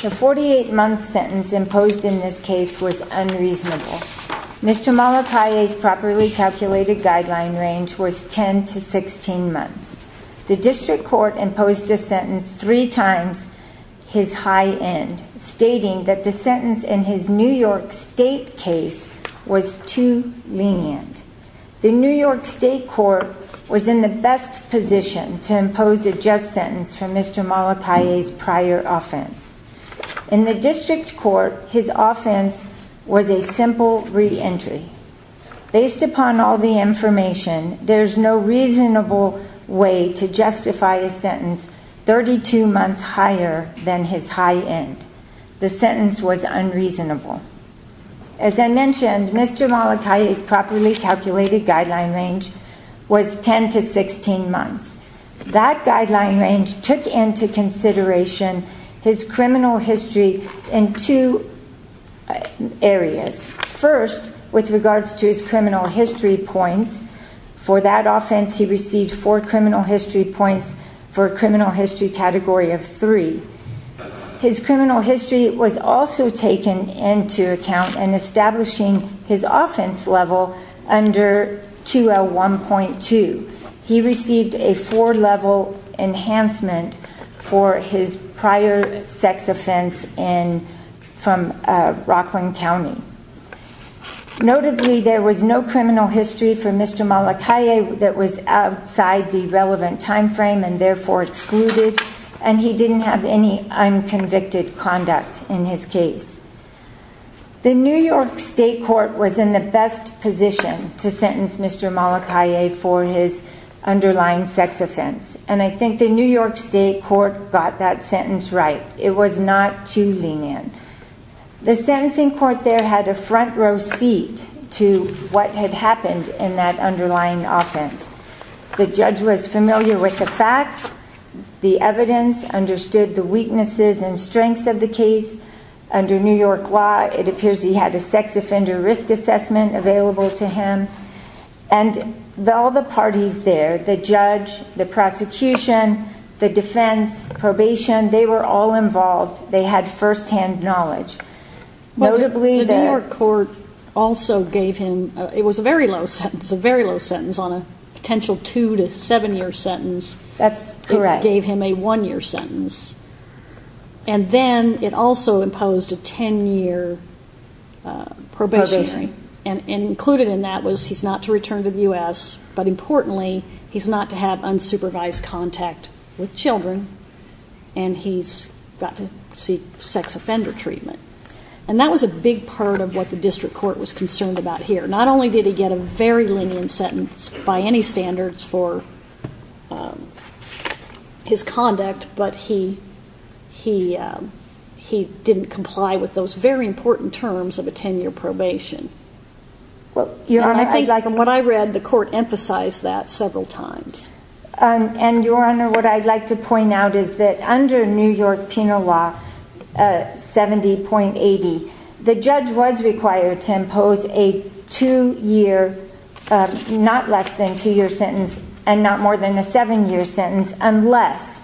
The 48-month sentence imposed in this case was unreasonable. Mr. Malla-Calle's properly 16 months. The District Court imposed a sentence three times his high end, stating that the sentence in his New York State case was too lenient. The New York State Court was in the best position to impose a just sentence for Mr. Malla-Calle's prior offense. In the District to justify a sentence 32 months higher than his high end. The sentence was unreasonable. As I mentioned Mr. Malla-Calle's properly calculated guideline range was ten to 16 months. That guideline range took into consideration his criminal history in two areas. First with regards to his criminal history points. For that offense he received four criminal history points for a criminal history category of three. His criminal history was also taken into account in establishing his offense level under 2L1.2. He received a four level enhancement for his prior sex offense from Rockland County. Notably there was no criminal history for Mr. Malla-Calle that was outside the relevant time frame and therefore excluded and he didn't have any unconvicted conduct in his case. The New York State Court was in the best position to sentence Mr. Malla-Calle for his underlying sex offense and I think the New York State Court got that sentence right. It was not too lenient. The sentencing court there had a front row seat to what had happened in that underlying offense. The judge was familiar with the facts, the evidence, understood the weaknesses and strengths of the case. Under New York law it appears he had a and all the parties there, the judge, the prosecution, the defense, probation, they were all involved. They had firsthand knowledge. Notably the New York court also gave him, it was a very low sentence, a very low sentence on a potential two to seven year sentence. That's correct. It gave him a one year sentence and then it also imposed a ten year probationary and included in that was he's not to return to the U.S. but importantly he's not to have unsupervised contact with children and he's got to seek sex offender treatment and that was a big part of what the district court was concerned about here. Not only did he get a very lenient sentence by any standards for his conduct but he didn't comply with those very important terms of a ten year probation. What I read the court emphasized that several times. And your honor what I'd like to point out is that under New York penal law 70.80 the judge was required to impose a two year, not less than two year sentence and not more than a seven year sentence unless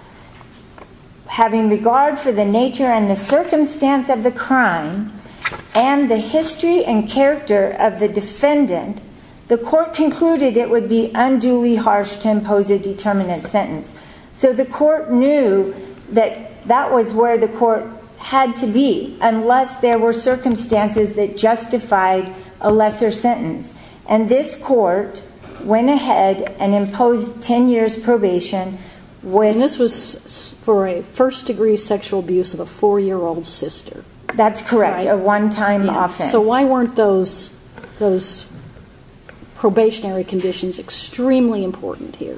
having regard for the nature and the circumstance of the crime and the history and character of the defendant, the court concluded it would be unduly harsh to where the court had to be unless there were circumstances that justified a lesser sentence. And this court went ahead and imposed ten years probation when this was for a first-degree sexual abuse of a four-year-old sister. That's correct a one-time offense. So why weren't those those probationary conditions extremely important here?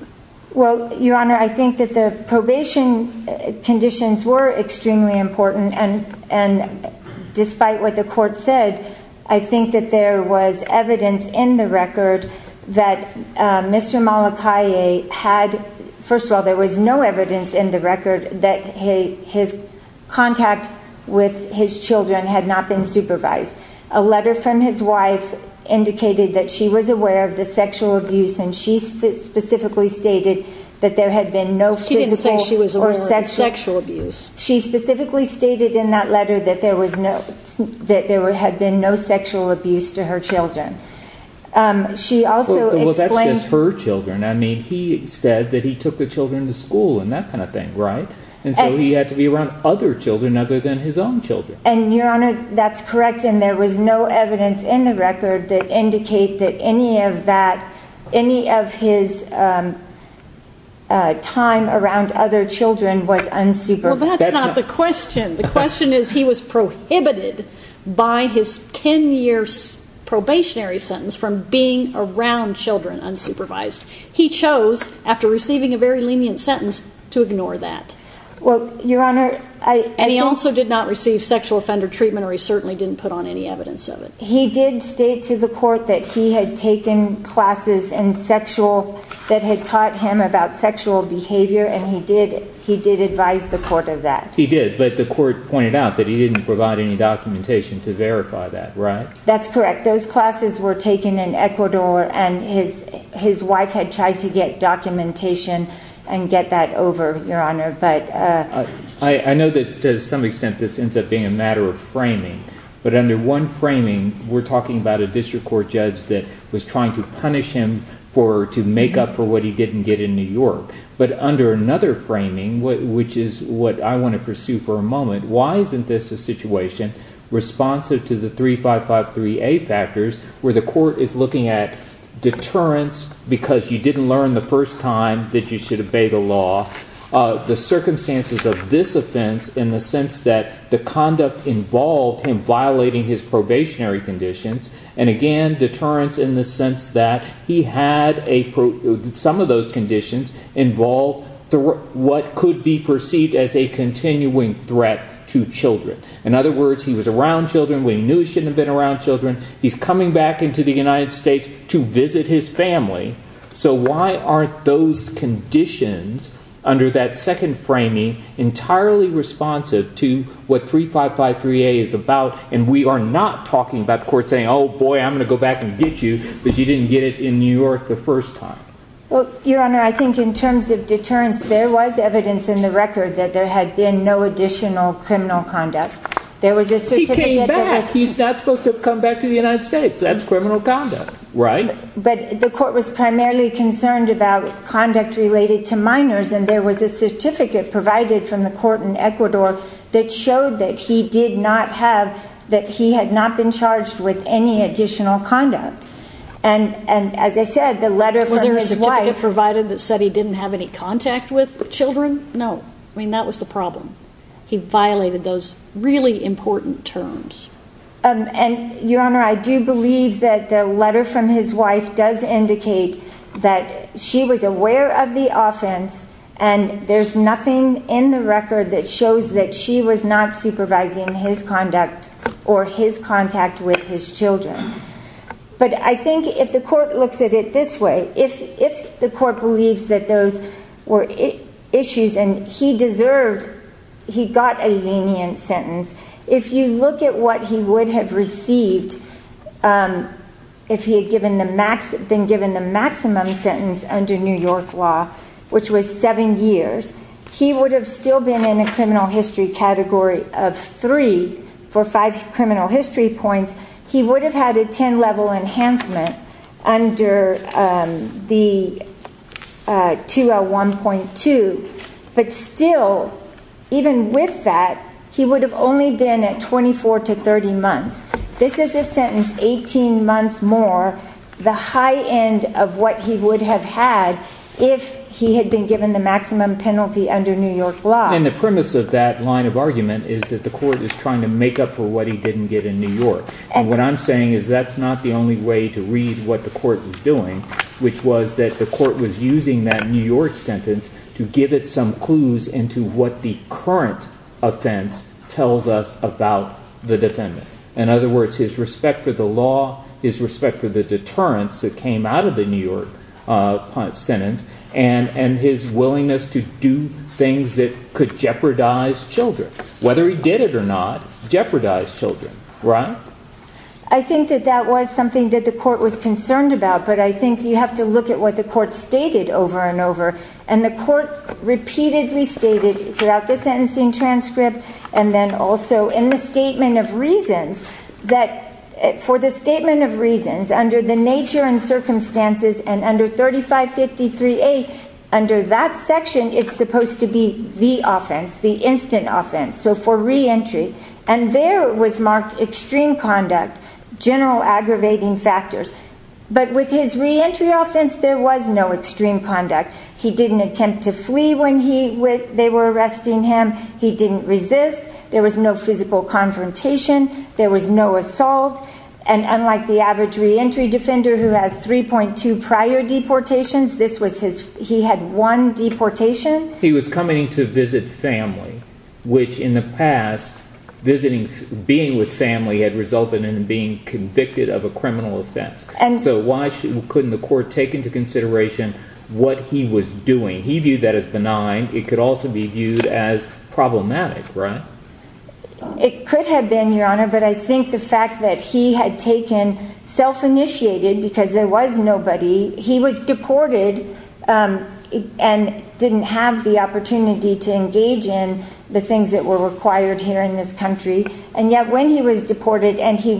Well your honor I think that the probation conditions were extremely important and and despite what the court said I think that there was evidence in the record that Mr. Malachi had first of all there was no evidence in the record that his contact with his children had not been supervised. A letter from his wife indicated that she was aware of the sexual abuse and she specifically stated that there had been no physical or sexual abuse. She specifically stated in that letter that there was no that there had been no sexual abuse to her children. She also explained... Well that's just her children I mean he said that he took the children to school and that kind of thing right and so he had to be around other children other than his own children. And your honor that's correct and there was no evidence in the record that indicate that any of that any of his time around other children was unsupervised. Well that's not the question. The question is he was prohibited by his 10 years probationary sentence from being around children unsupervised. He chose after receiving a very lenient sentence to ignore that. Well your honor I... And he also did not receive sexual offender treatment or he certainly didn't put on any evidence of it. He did state to the court that he had taken classes in sexual that had taught him about sexual behavior and he did he did advise the court of that. He did but the court pointed out that he didn't provide any documentation to verify that right? That's correct those classes were taken in Ecuador and his his wife had tried to get documentation and get that over your honor but... I know that to some extent this ends up being a matter of framing but under one framing we're talking about a district court judge that was trying to punish him for to make up for what he didn't get in New York but under another framing which is what I want to pursue for a moment why isn't this a situation responsive to the 355 3a factors where the court is looking at deterrence because you didn't learn the first time that you should obey the law the circumstances of this offense in the sense that the conduct involved him violating his probationary conditions and again deterrence in the sense that he had a some of those conditions involved through what could be perceived as a continuing threat to children. In other words he was around children we knew he shouldn't have been around children he's coming back into the United States to visit his family so why aren't those conditions under that second framing entirely responsive to what 355 3a is about and we are not talking about the court saying oh boy I'm gonna go back and get you but you didn't get it in New York the first time. Well your honor I think in terms of deterrence there was evidence in the record that there had been no additional criminal conduct there was a he's not supposed to come back to the United States that's criminal conduct right but the court was primarily concerned about conduct related to minors and there was a certificate provided from the court in Ecuador that showed that he did not have that he had not been charged with any additional conduct and and as I said the letter from his wife provided that said he didn't have any contact with children no I mean that was the problem he violated those really important terms and your honor I do believe that the letter from his wife does indicate that she was aware of the offense and there's nothing in the record that shows that she was not supervising his conduct or his contact with his children but I think if the court looks at it this way if if the court believes that those were issues and he deserved he got a lenient sentence if you look at what he would have received if he had given the max been given the maximum sentence under New York law which was seven years he would have still been in a criminal history category of three for five criminal history points he would have had a 10 level enhancement under the 201.2 but still even with that he would have only been at 24 to 30 months this is a sentence 18 months more the high end of what he would have had if he had been given the maximum penalty under New York law and the premise of that line argument is that the court is trying to make up for what he didn't get in New York and what I'm saying is that's not the only way to read what the court was doing which was that the court was using that New York sentence to give it some clues into what the current offense tells us about the defendant in other words his respect for the law his respect for the deterrence that came out of New York sentence and and his willingness to do things that could jeopardize children whether he did it or not jeopardize children right I think that that was something that the court was concerned about but I think you have to look at what the court stated over and over and the court repeatedly stated throughout the sentencing transcript and then also in the statement of reasons that for the statement of reasons under the nature and circumstances and under 3553a under that section it's supposed to be the offense the instant offense so for re-entry and there was marked extreme conduct general aggravating factors but with his re-entry offense there was no extreme conduct he didn't attempt to flee when he when they were arresting him he didn't resist there was no physical confrontation there was no assault and unlike the average re-entry defender who has 3.2 prior deportations this was his he had one deportation he was coming to visit family which in the past visiting being with family had resulted in being convicted of a criminal offense and so why couldn't the court take into consideration what he was doing he viewed that as benign it could also be viewed as problematic right it could have been your honor but I think the fact that he had taken self-initiated because there was nobody he was deported and didn't have the opportunity to engage in the things that were required here in this country and yet when he was deported and he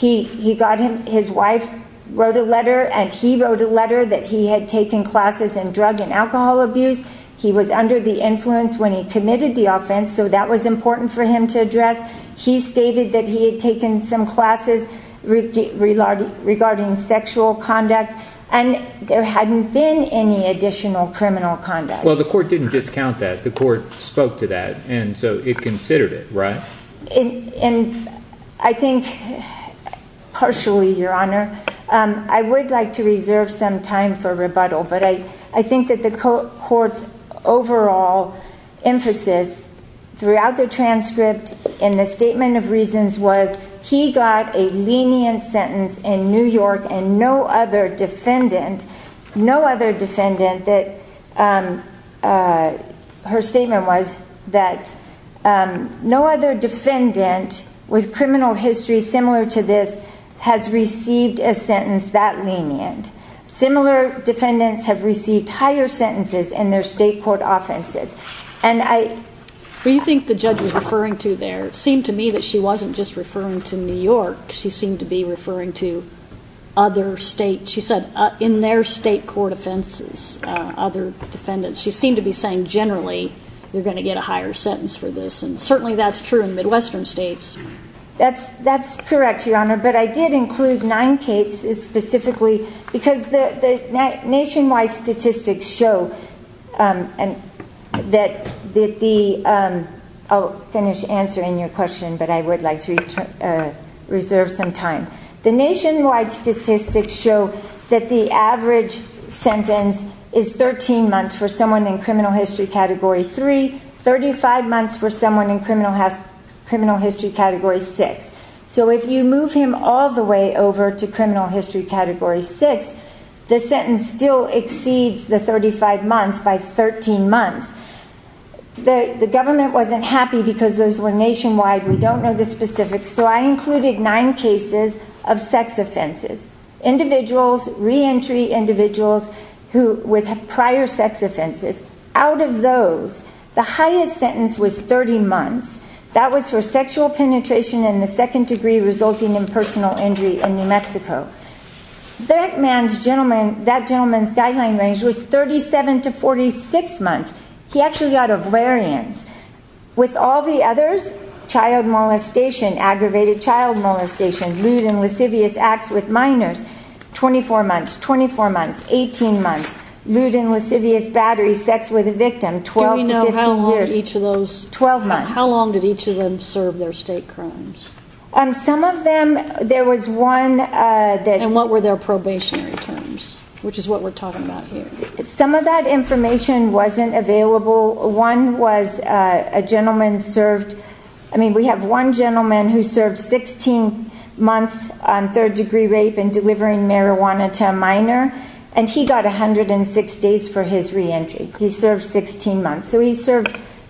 he got him his wife wrote a letter and he wrote a letter that he had taken classes in drug and alcohol abuse he was under the influence when he committed the offense so that was important for him to address he stated that he had taken some classes regarding regarding sexual conduct and there hadn't been any additional criminal conduct well the court didn't discount that the court spoke to that and so it considered it right and and I think partially your honor um I would like to reserve some time for rebuttal but I I think that the court's overall emphasis throughout the transcript in the statement of reasons was he got a lenient sentence in New York and no other defendant no other defendant that um uh her statement was that um no other defendant with criminal history similar to this has received a sentence that lenient similar defendants have received higher sentences in their state court offenses and I well you think the judge was referring to there seemed to me that she wasn't just referring to New York she seemed to be other state she said in their state court offenses other defendants she seemed to be saying generally you're going to get a higher sentence for this and certainly that's true in midwestern states that's that's correct your honor but I did include nine cases specifically because the the nationwide statistics show um and that the um I'll finish answering your question but I would like to reserve some time the nationwide statistics show that the average sentence is 13 months for someone in criminal history category 3 35 months for someone in criminal has criminal history category 6 so if you move him all the way over to criminal history category 6 the sentence still exceeds the 35 months by 13 months the the government wasn't happy because those were nationwide we don't know the specifics so I included nine cases of sex offenses individuals re-entry individuals who with prior sex offenses out of those the highest sentence was 30 months that was for sexual penetration in the second degree resulting in personal injury in New Mexico that man's gentleman that gentleman's guideline range was 37 to 46 months he actually got a variance with all the others child molestation aggravated child molestation lewd and lascivious acts with minors 24 months 24 months 18 months lewd and lascivious battery sex with a victim 12 years each of those 12 months how long did each of them serve their state crimes um some of them there was one uh that and what were their probationary terms which is we're talking about here some of that information wasn't available one was a gentleman served I mean we have one gentleman who served 16 months on third degree rape and delivering marijuana to a minor and he got 106 days for his re-entry he served 16 months so he served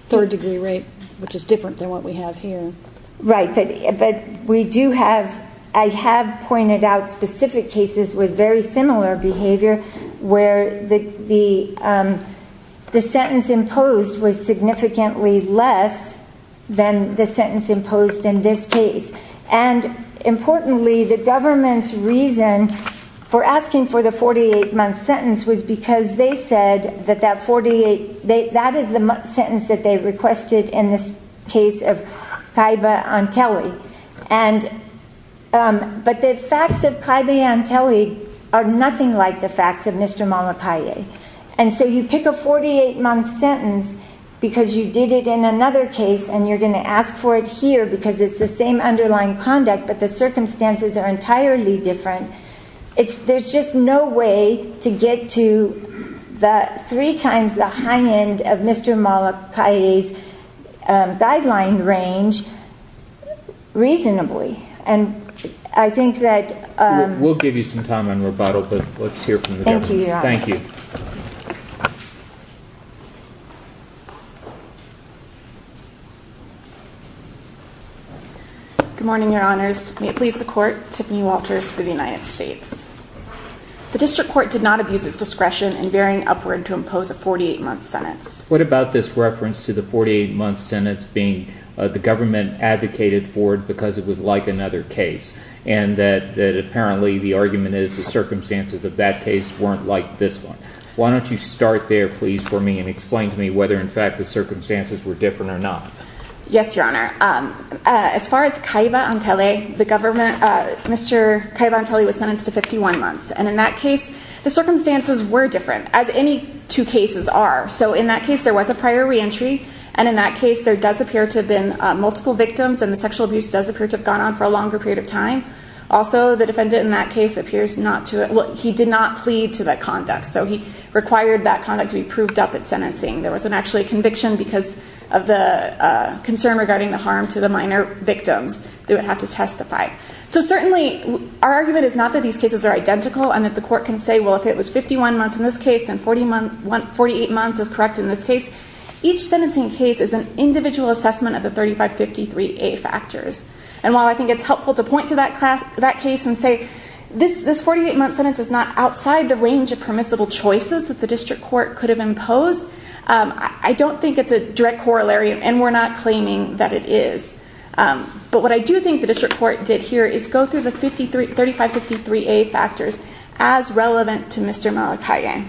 third degree rape which is different than what we have here right but but we do have I have pointed out specific cases with very similar behavior where the the um the sentence imposed was significantly less than the sentence imposed in this case and importantly the government's reason for asking for the 48 month sentence was because they said that that 48 they that is the sentence that they are nothing like the facts of Mr. Molokai and so you pick a 48 month sentence because you did it in another case and you're going to ask for it here because it's the same underlying conduct but the circumstances are entirely different it's there's just no way to get to the three times the we'll give you some time on rebuttal but let's hear from you thank you good morning your honors may it please the court tiffany walters for the united states the district court did not abuse its discretion in bearing upward to impose a 48 month sentence what about this reference to the 48 month sentence being the government advocated for it because it was like another case and that that apparently the argument is the circumstances of that case weren't like this one why don't you start there please for me and explain to me whether in fact the circumstances were different or not yes your honor um as far as kaiba on tele the government uh mr kaiba on tele was sentenced to 51 months and in that case the circumstances were different as any two cases are so in that case there was a prior re-entry and in that case there does appear to have been multiple victims and the sexual abuse does appear to have gone on for a longer period of time also the defendant in that case appears not to well he did not plead to that conduct so he required that conduct to be proved up at sentencing there wasn't actually a conviction because of the uh concern regarding the harm to the minor victims they would have to testify so certainly our argument is not that these cases are identical and that the court can say well if it was 51 months in this case and 40 months 48 months is correct in this case each sentencing case is an individual assessment of the 35 53a factors and while i think it's helpful to point to that class that case and say this this 48 month sentence is not outside the range of permissible choices that the district court could have imposed um i don't think it's a direct corollary and we're not claiming that it is um but what i do think the district court did here is go through the 53 35 53a factors as relevant to mr malachi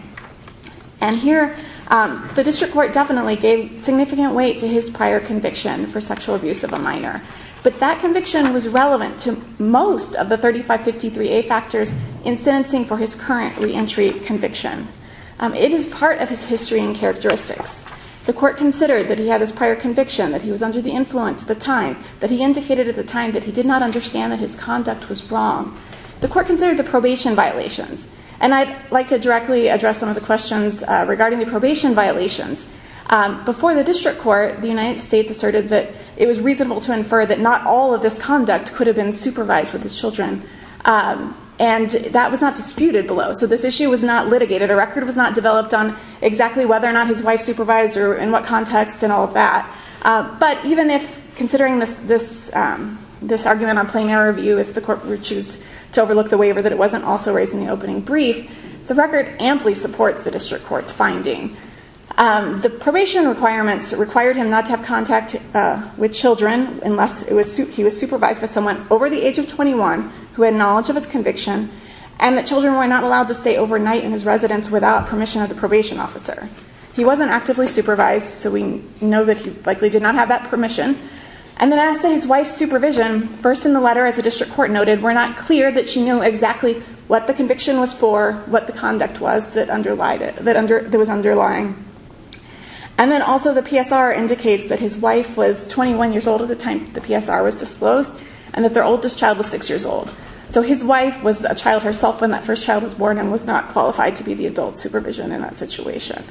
and here um the district court definitely gave significant weight to his prior conviction for sexual abuse of a minor but that conviction was relevant to most of the 35 53a factors in sentencing for his current re-entry conviction it is part of his history and characteristics the court considered that he had his prior conviction that he was under the influence at the time that he indicated at the time that he did not understand that his conduct was wrong the court considered the probation violations and i'd like to directly address some of the questions uh regarding the probation violations um before the district court the united states asserted that it was reasonable to infer that not all of this conduct could have been supervised with his children um and that was not disputed below so this issue was not litigated a record was not developed on exactly whether or not his wife supervised or in what context and all of that uh but even if considering this this um this argument on plain error review if the court would choose to overlook the waiver that it wasn't also raised in the opening brief the record amply supports the district court's finding um the probation requirements required him not to have contact uh with children unless it was he was supervised by someone over the age of 21 who had knowledge of his conviction and that children were not allowed to stay overnight in his residence without permission of the probation officer he wasn't actively supervised so we know that he likely did not have that permission and then as his wife's supervision first in the letter the district court noted were not clear that she knew exactly what the conviction was for what the conduct was that underlied it that under there was underlying and then also the psr indicates that his wife was 21 years old at the time the psr was disclosed and that their oldest child was six years old so his wife was a child herself when that first child was born and was not qualified to be the adult supervision in that situation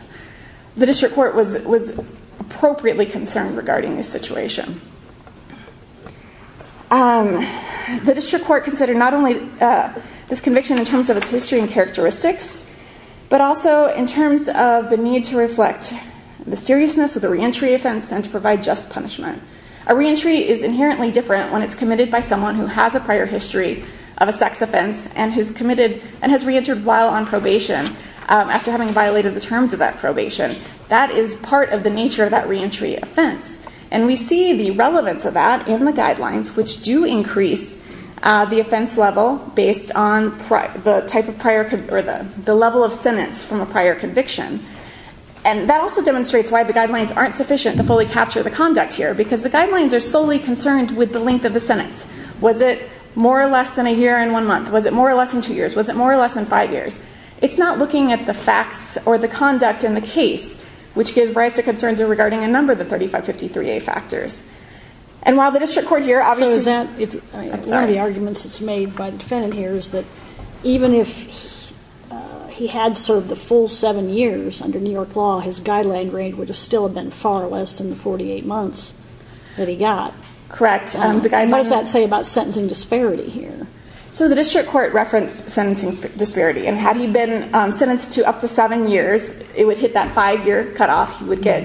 the district court was was appropriately concerned regarding this situation um the district court considered not only uh this conviction in terms of its history and characteristics but also in terms of the need to reflect the seriousness of the re-entry offense and to provide just punishment a re-entry is inherently different when it's committed by someone who has a prior history of a sex offense and has committed and has re-entered while on probation after having violated the terms of that probation that is part of the nature of that re-entry offense and we see the relevance of that in the guidelines which do increase uh the offense level based on the type of prior or the the level of sentence from a prior conviction and that also demonstrates why the guidelines aren't sufficient to fully capture the conduct here because the guidelines are solely concerned with the length of the sentence was it more or less than a year in one month was it more or less than two years was it more or less than are regarding a number of the 3553a factors and while the district court here obviously is that one of the arguments that's made by the defendant here is that even if he had served the full seven years under New York law his guideline range would have still have been far less than the 48 months that he got correct what does that say about sentencing disparity here so the district court referenced sentencing disparity and had he been sentenced to up to seven years it would hit that five-year cutoff he would get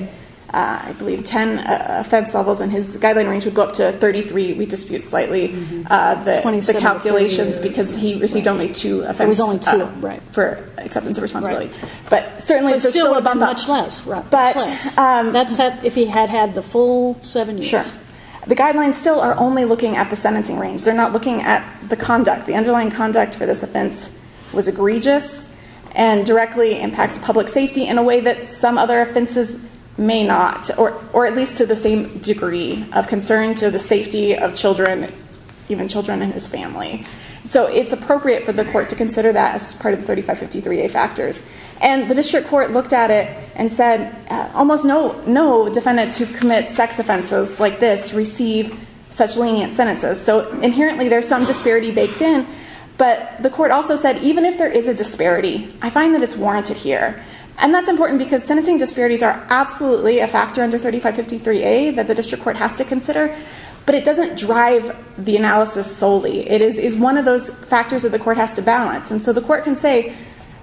uh i believe 10 offense levels and his guideline range would go up to 33 we dispute slightly uh the 27 calculations because he received only two if i was only two right for acceptance of responsibility but certainly much less right but um that's if he had had the full seven sure the guidelines still are only looking at the sentencing range they're not looking at the conduct the underlying conduct for this offense was egregious and directly impacts public safety in a way that some other offenses may not or or at least to the same degree of concern to the safety of children even children in his family so it's appropriate for the court to consider that as part of the 3553a factors and the district court looked at it and said almost no no defendants who commit sex offenses like this receive such lenient sentences so inherently there's some disparity baked in but the court also said even if there is a disparity i find that it's warranted here and that's important because sentencing disparities are absolutely a factor under 3553a that the district court has to consider but it doesn't drive the analysis solely it is is one of those factors that the court has to balance and so the court can say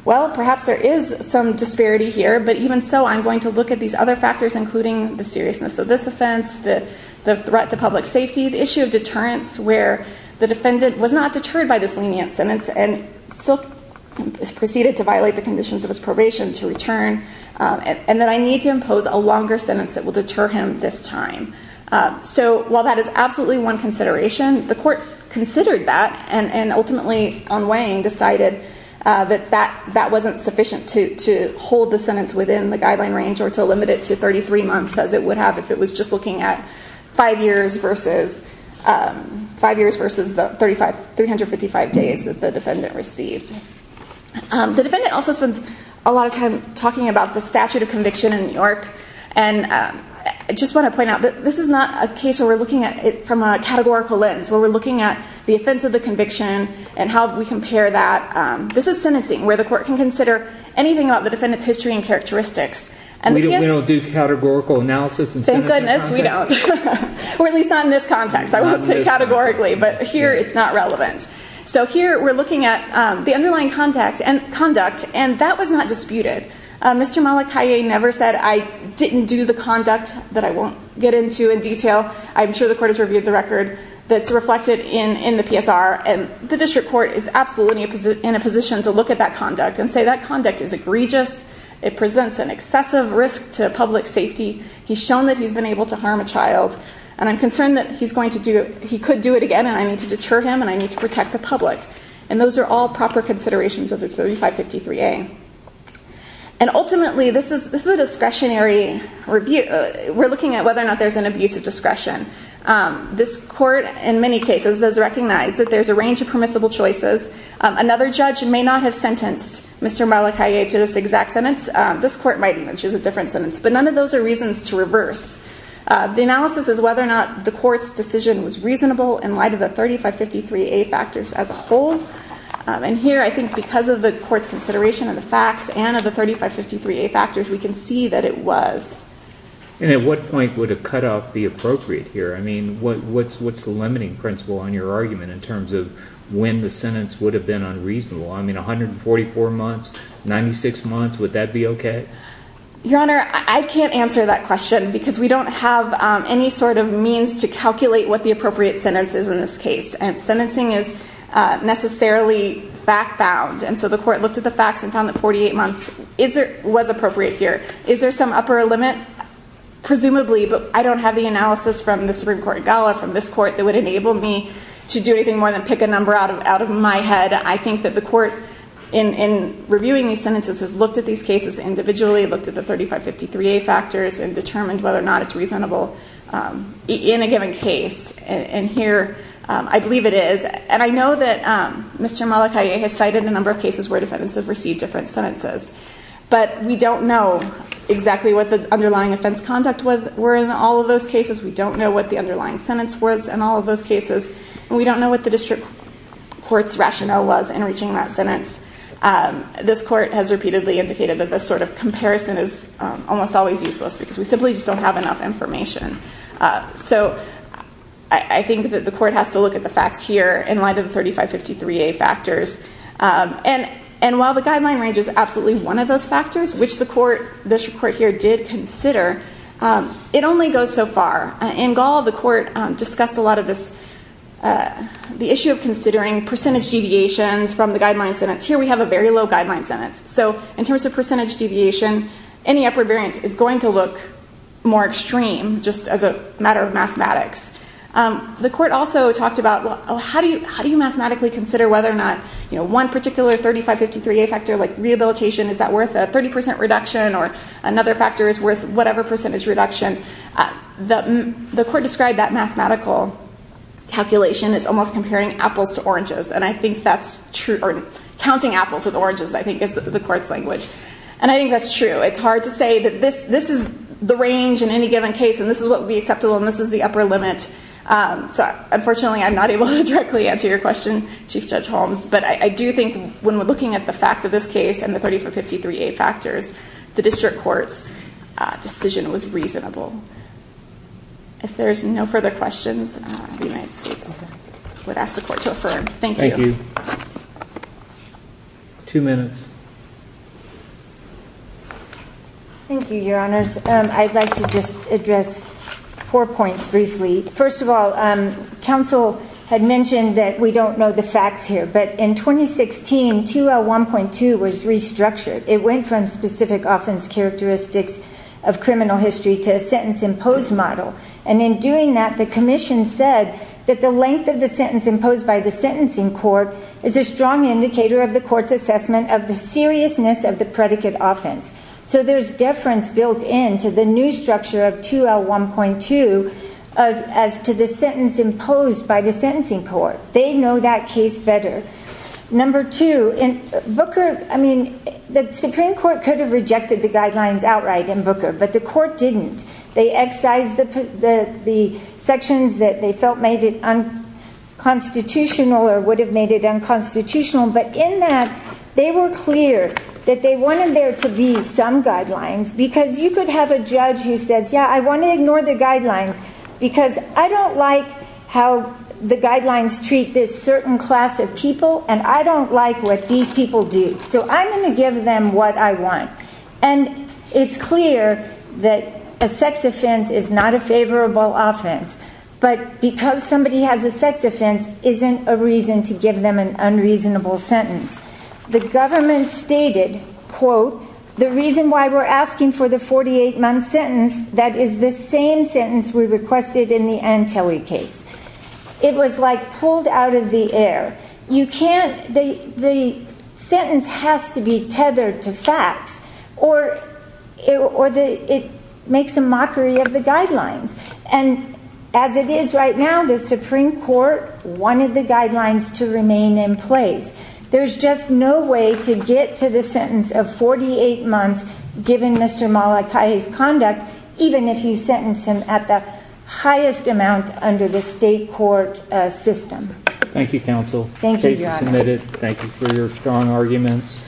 well perhaps there is some disparity here but even so i'm going to look at these other factors including the seriousness of this offense the the threat to public safety the issue of deterrence where the to return and that i need to impose a longer sentence that will deter him this time so while that is absolutely one consideration the court considered that and and ultimately on weighing decided uh that that that wasn't sufficient to to hold the sentence within the guideline range or to limit it to 33 months as it would have if it was just looking at five years versus um five years versus the 35 355 days that the defendant received um the defendant also spends a lot of time talking about the statute of conviction in new york and i just want to point out that this is not a case where we're looking at it from a categorical lens where we're looking at the offense of the conviction and how we compare that um this is sentencing where the court can consider anything about the defendant's history and characteristics and we don't do categorical analysis and thank goodness we don't or at least not in this context i won't take categorically but here it's not relevant so here we're looking at um the underlying contact and conduct and that was not disputed uh mr malik hi never said i didn't do the conduct that i won't get into in detail i'm sure the court has reviewed the record that's reflected in in the psr and the district court is absolutely in a position to look at that conduct and say that conduct is egregious it presents an excessive risk to public safety he's shown that he's been able to harm a child and i'm concerned that he's going to do he could do it again and i need to deter him and i need to protect the public and those are all proper considerations of the 35 53a and ultimately this is this is a discretionary review we're looking at whether or not there's an abuse of discretion um this court in many cases has recognized that there's a range of permissible choices another judge may not have sentenced mr malik hi to this exact sentence this court might which is a different sentence but none of those are reasons to reverse the analysis is whether or not the court's decision was reasonable in light of the 35 53a factors as a whole and here i think because of the court's consideration of the facts and of the 35 53a factors we can see that it was and at what point would have cut off the appropriate here i mean what what's what's the limiting principle on your argument in terms of when the sentence would have been unreasonable i mean 144 months 96 months would that be okay your honor i can't answer that question because we don't have um any sort of means to calculate what the appropriate sentence is in this case and sentencing is uh necessarily fact bound and so the court looked at the facts and found that 48 months is there was appropriate here is there some upper limit presumably but i don't have the analysis from the supreme court gala from this court that would enable me to do anything more than pick a number out of out of my head i think that the court in in reviewing these sentences has looked at these cases individually looked at the 35 53a factors and determined whether or not it's reasonable in a given case and here i believe it is and i know that um mr malachi has cited a number of cases where defendants have received different sentences but we don't know exactly what the underlying offense conduct was were in all of those cases we don't know what the underlying sentence was in all of those cases and we don't know what the district court's rationale was in reaching that sentence this court has repeatedly indicated that this sort of comparison is almost always useless because we simply just don't have enough information so i think that the court has to look at the facts here in light of the 35 53a factors and and while the guideline range is absolutely one of those factors which the court this report here did consider it only goes so far in gall the court discussed a lot of this the issue of considering percentage deviations from the guideline sentence here we have a very low guideline sentence so in terms of percentage deviation any upward variance is going to look more extreme just as a matter of mathematics um the court also talked about well how do you how do you mathematically consider whether or not you know one particular 35 53a factor like rehabilitation is that worth a 30 reduction or another factor is worth whatever percentage reduction the the court described that mathematical calculation is almost comparing apples to oranges and i think that's true or counting apples with oranges i think is the court's language and i think that's true it's hard to say that this this is the range in any given case and this is what would be acceptable and this is the upper limit um so unfortunately i'm not able to directly answer your question chief judge holmes but i do think when we're looking at the facts of this case and the 30 for 53a factors the district court's decision was reasonable if there's no further questions the united states would ask the court to affirm thank you two minutes thank you your honors um i'd like to just address four points briefly first of all um council had it went from specific offense characteristics of criminal history to a sentence imposed model and in doing that the commission said that the length of the sentence imposed by the sentencing court is a strong indicator of the court's assessment of the seriousness of the predicate offense so there's deference built into the new structure of 2l 1.2 as as to the sentence the supreme court could have rejected the guidelines outright in booker but the court didn't they excised the the the sections that they felt made it unconstitutional or would have made it unconstitutional but in that they were clear that they wanted there to be some guidelines because you could have a judge who says yeah i want to ignore the guidelines because i don't like how the guidelines treat this certain class of people and i don't like what these people do so i'm going to give them what i want and it's clear that a sex offense is not a favorable offense but because somebody has a sex offense isn't a reason to give them an unreasonable sentence the government stated quote the reason why we're asking for the 48-month sentence that is the same sentence we requested in the antelli case it was like pulled out of the air you can't the the sentence has to be tethered to facts or it or the it makes a mockery of the guidelines and as it is right now the supreme court wanted the guidelines to remain in place there's just no way to get to the sentence of 48 months given mr malakai's conduct even if you sentence him at the highest amount under the state court system thank you counsel thank you submitted thank you for your strong arguments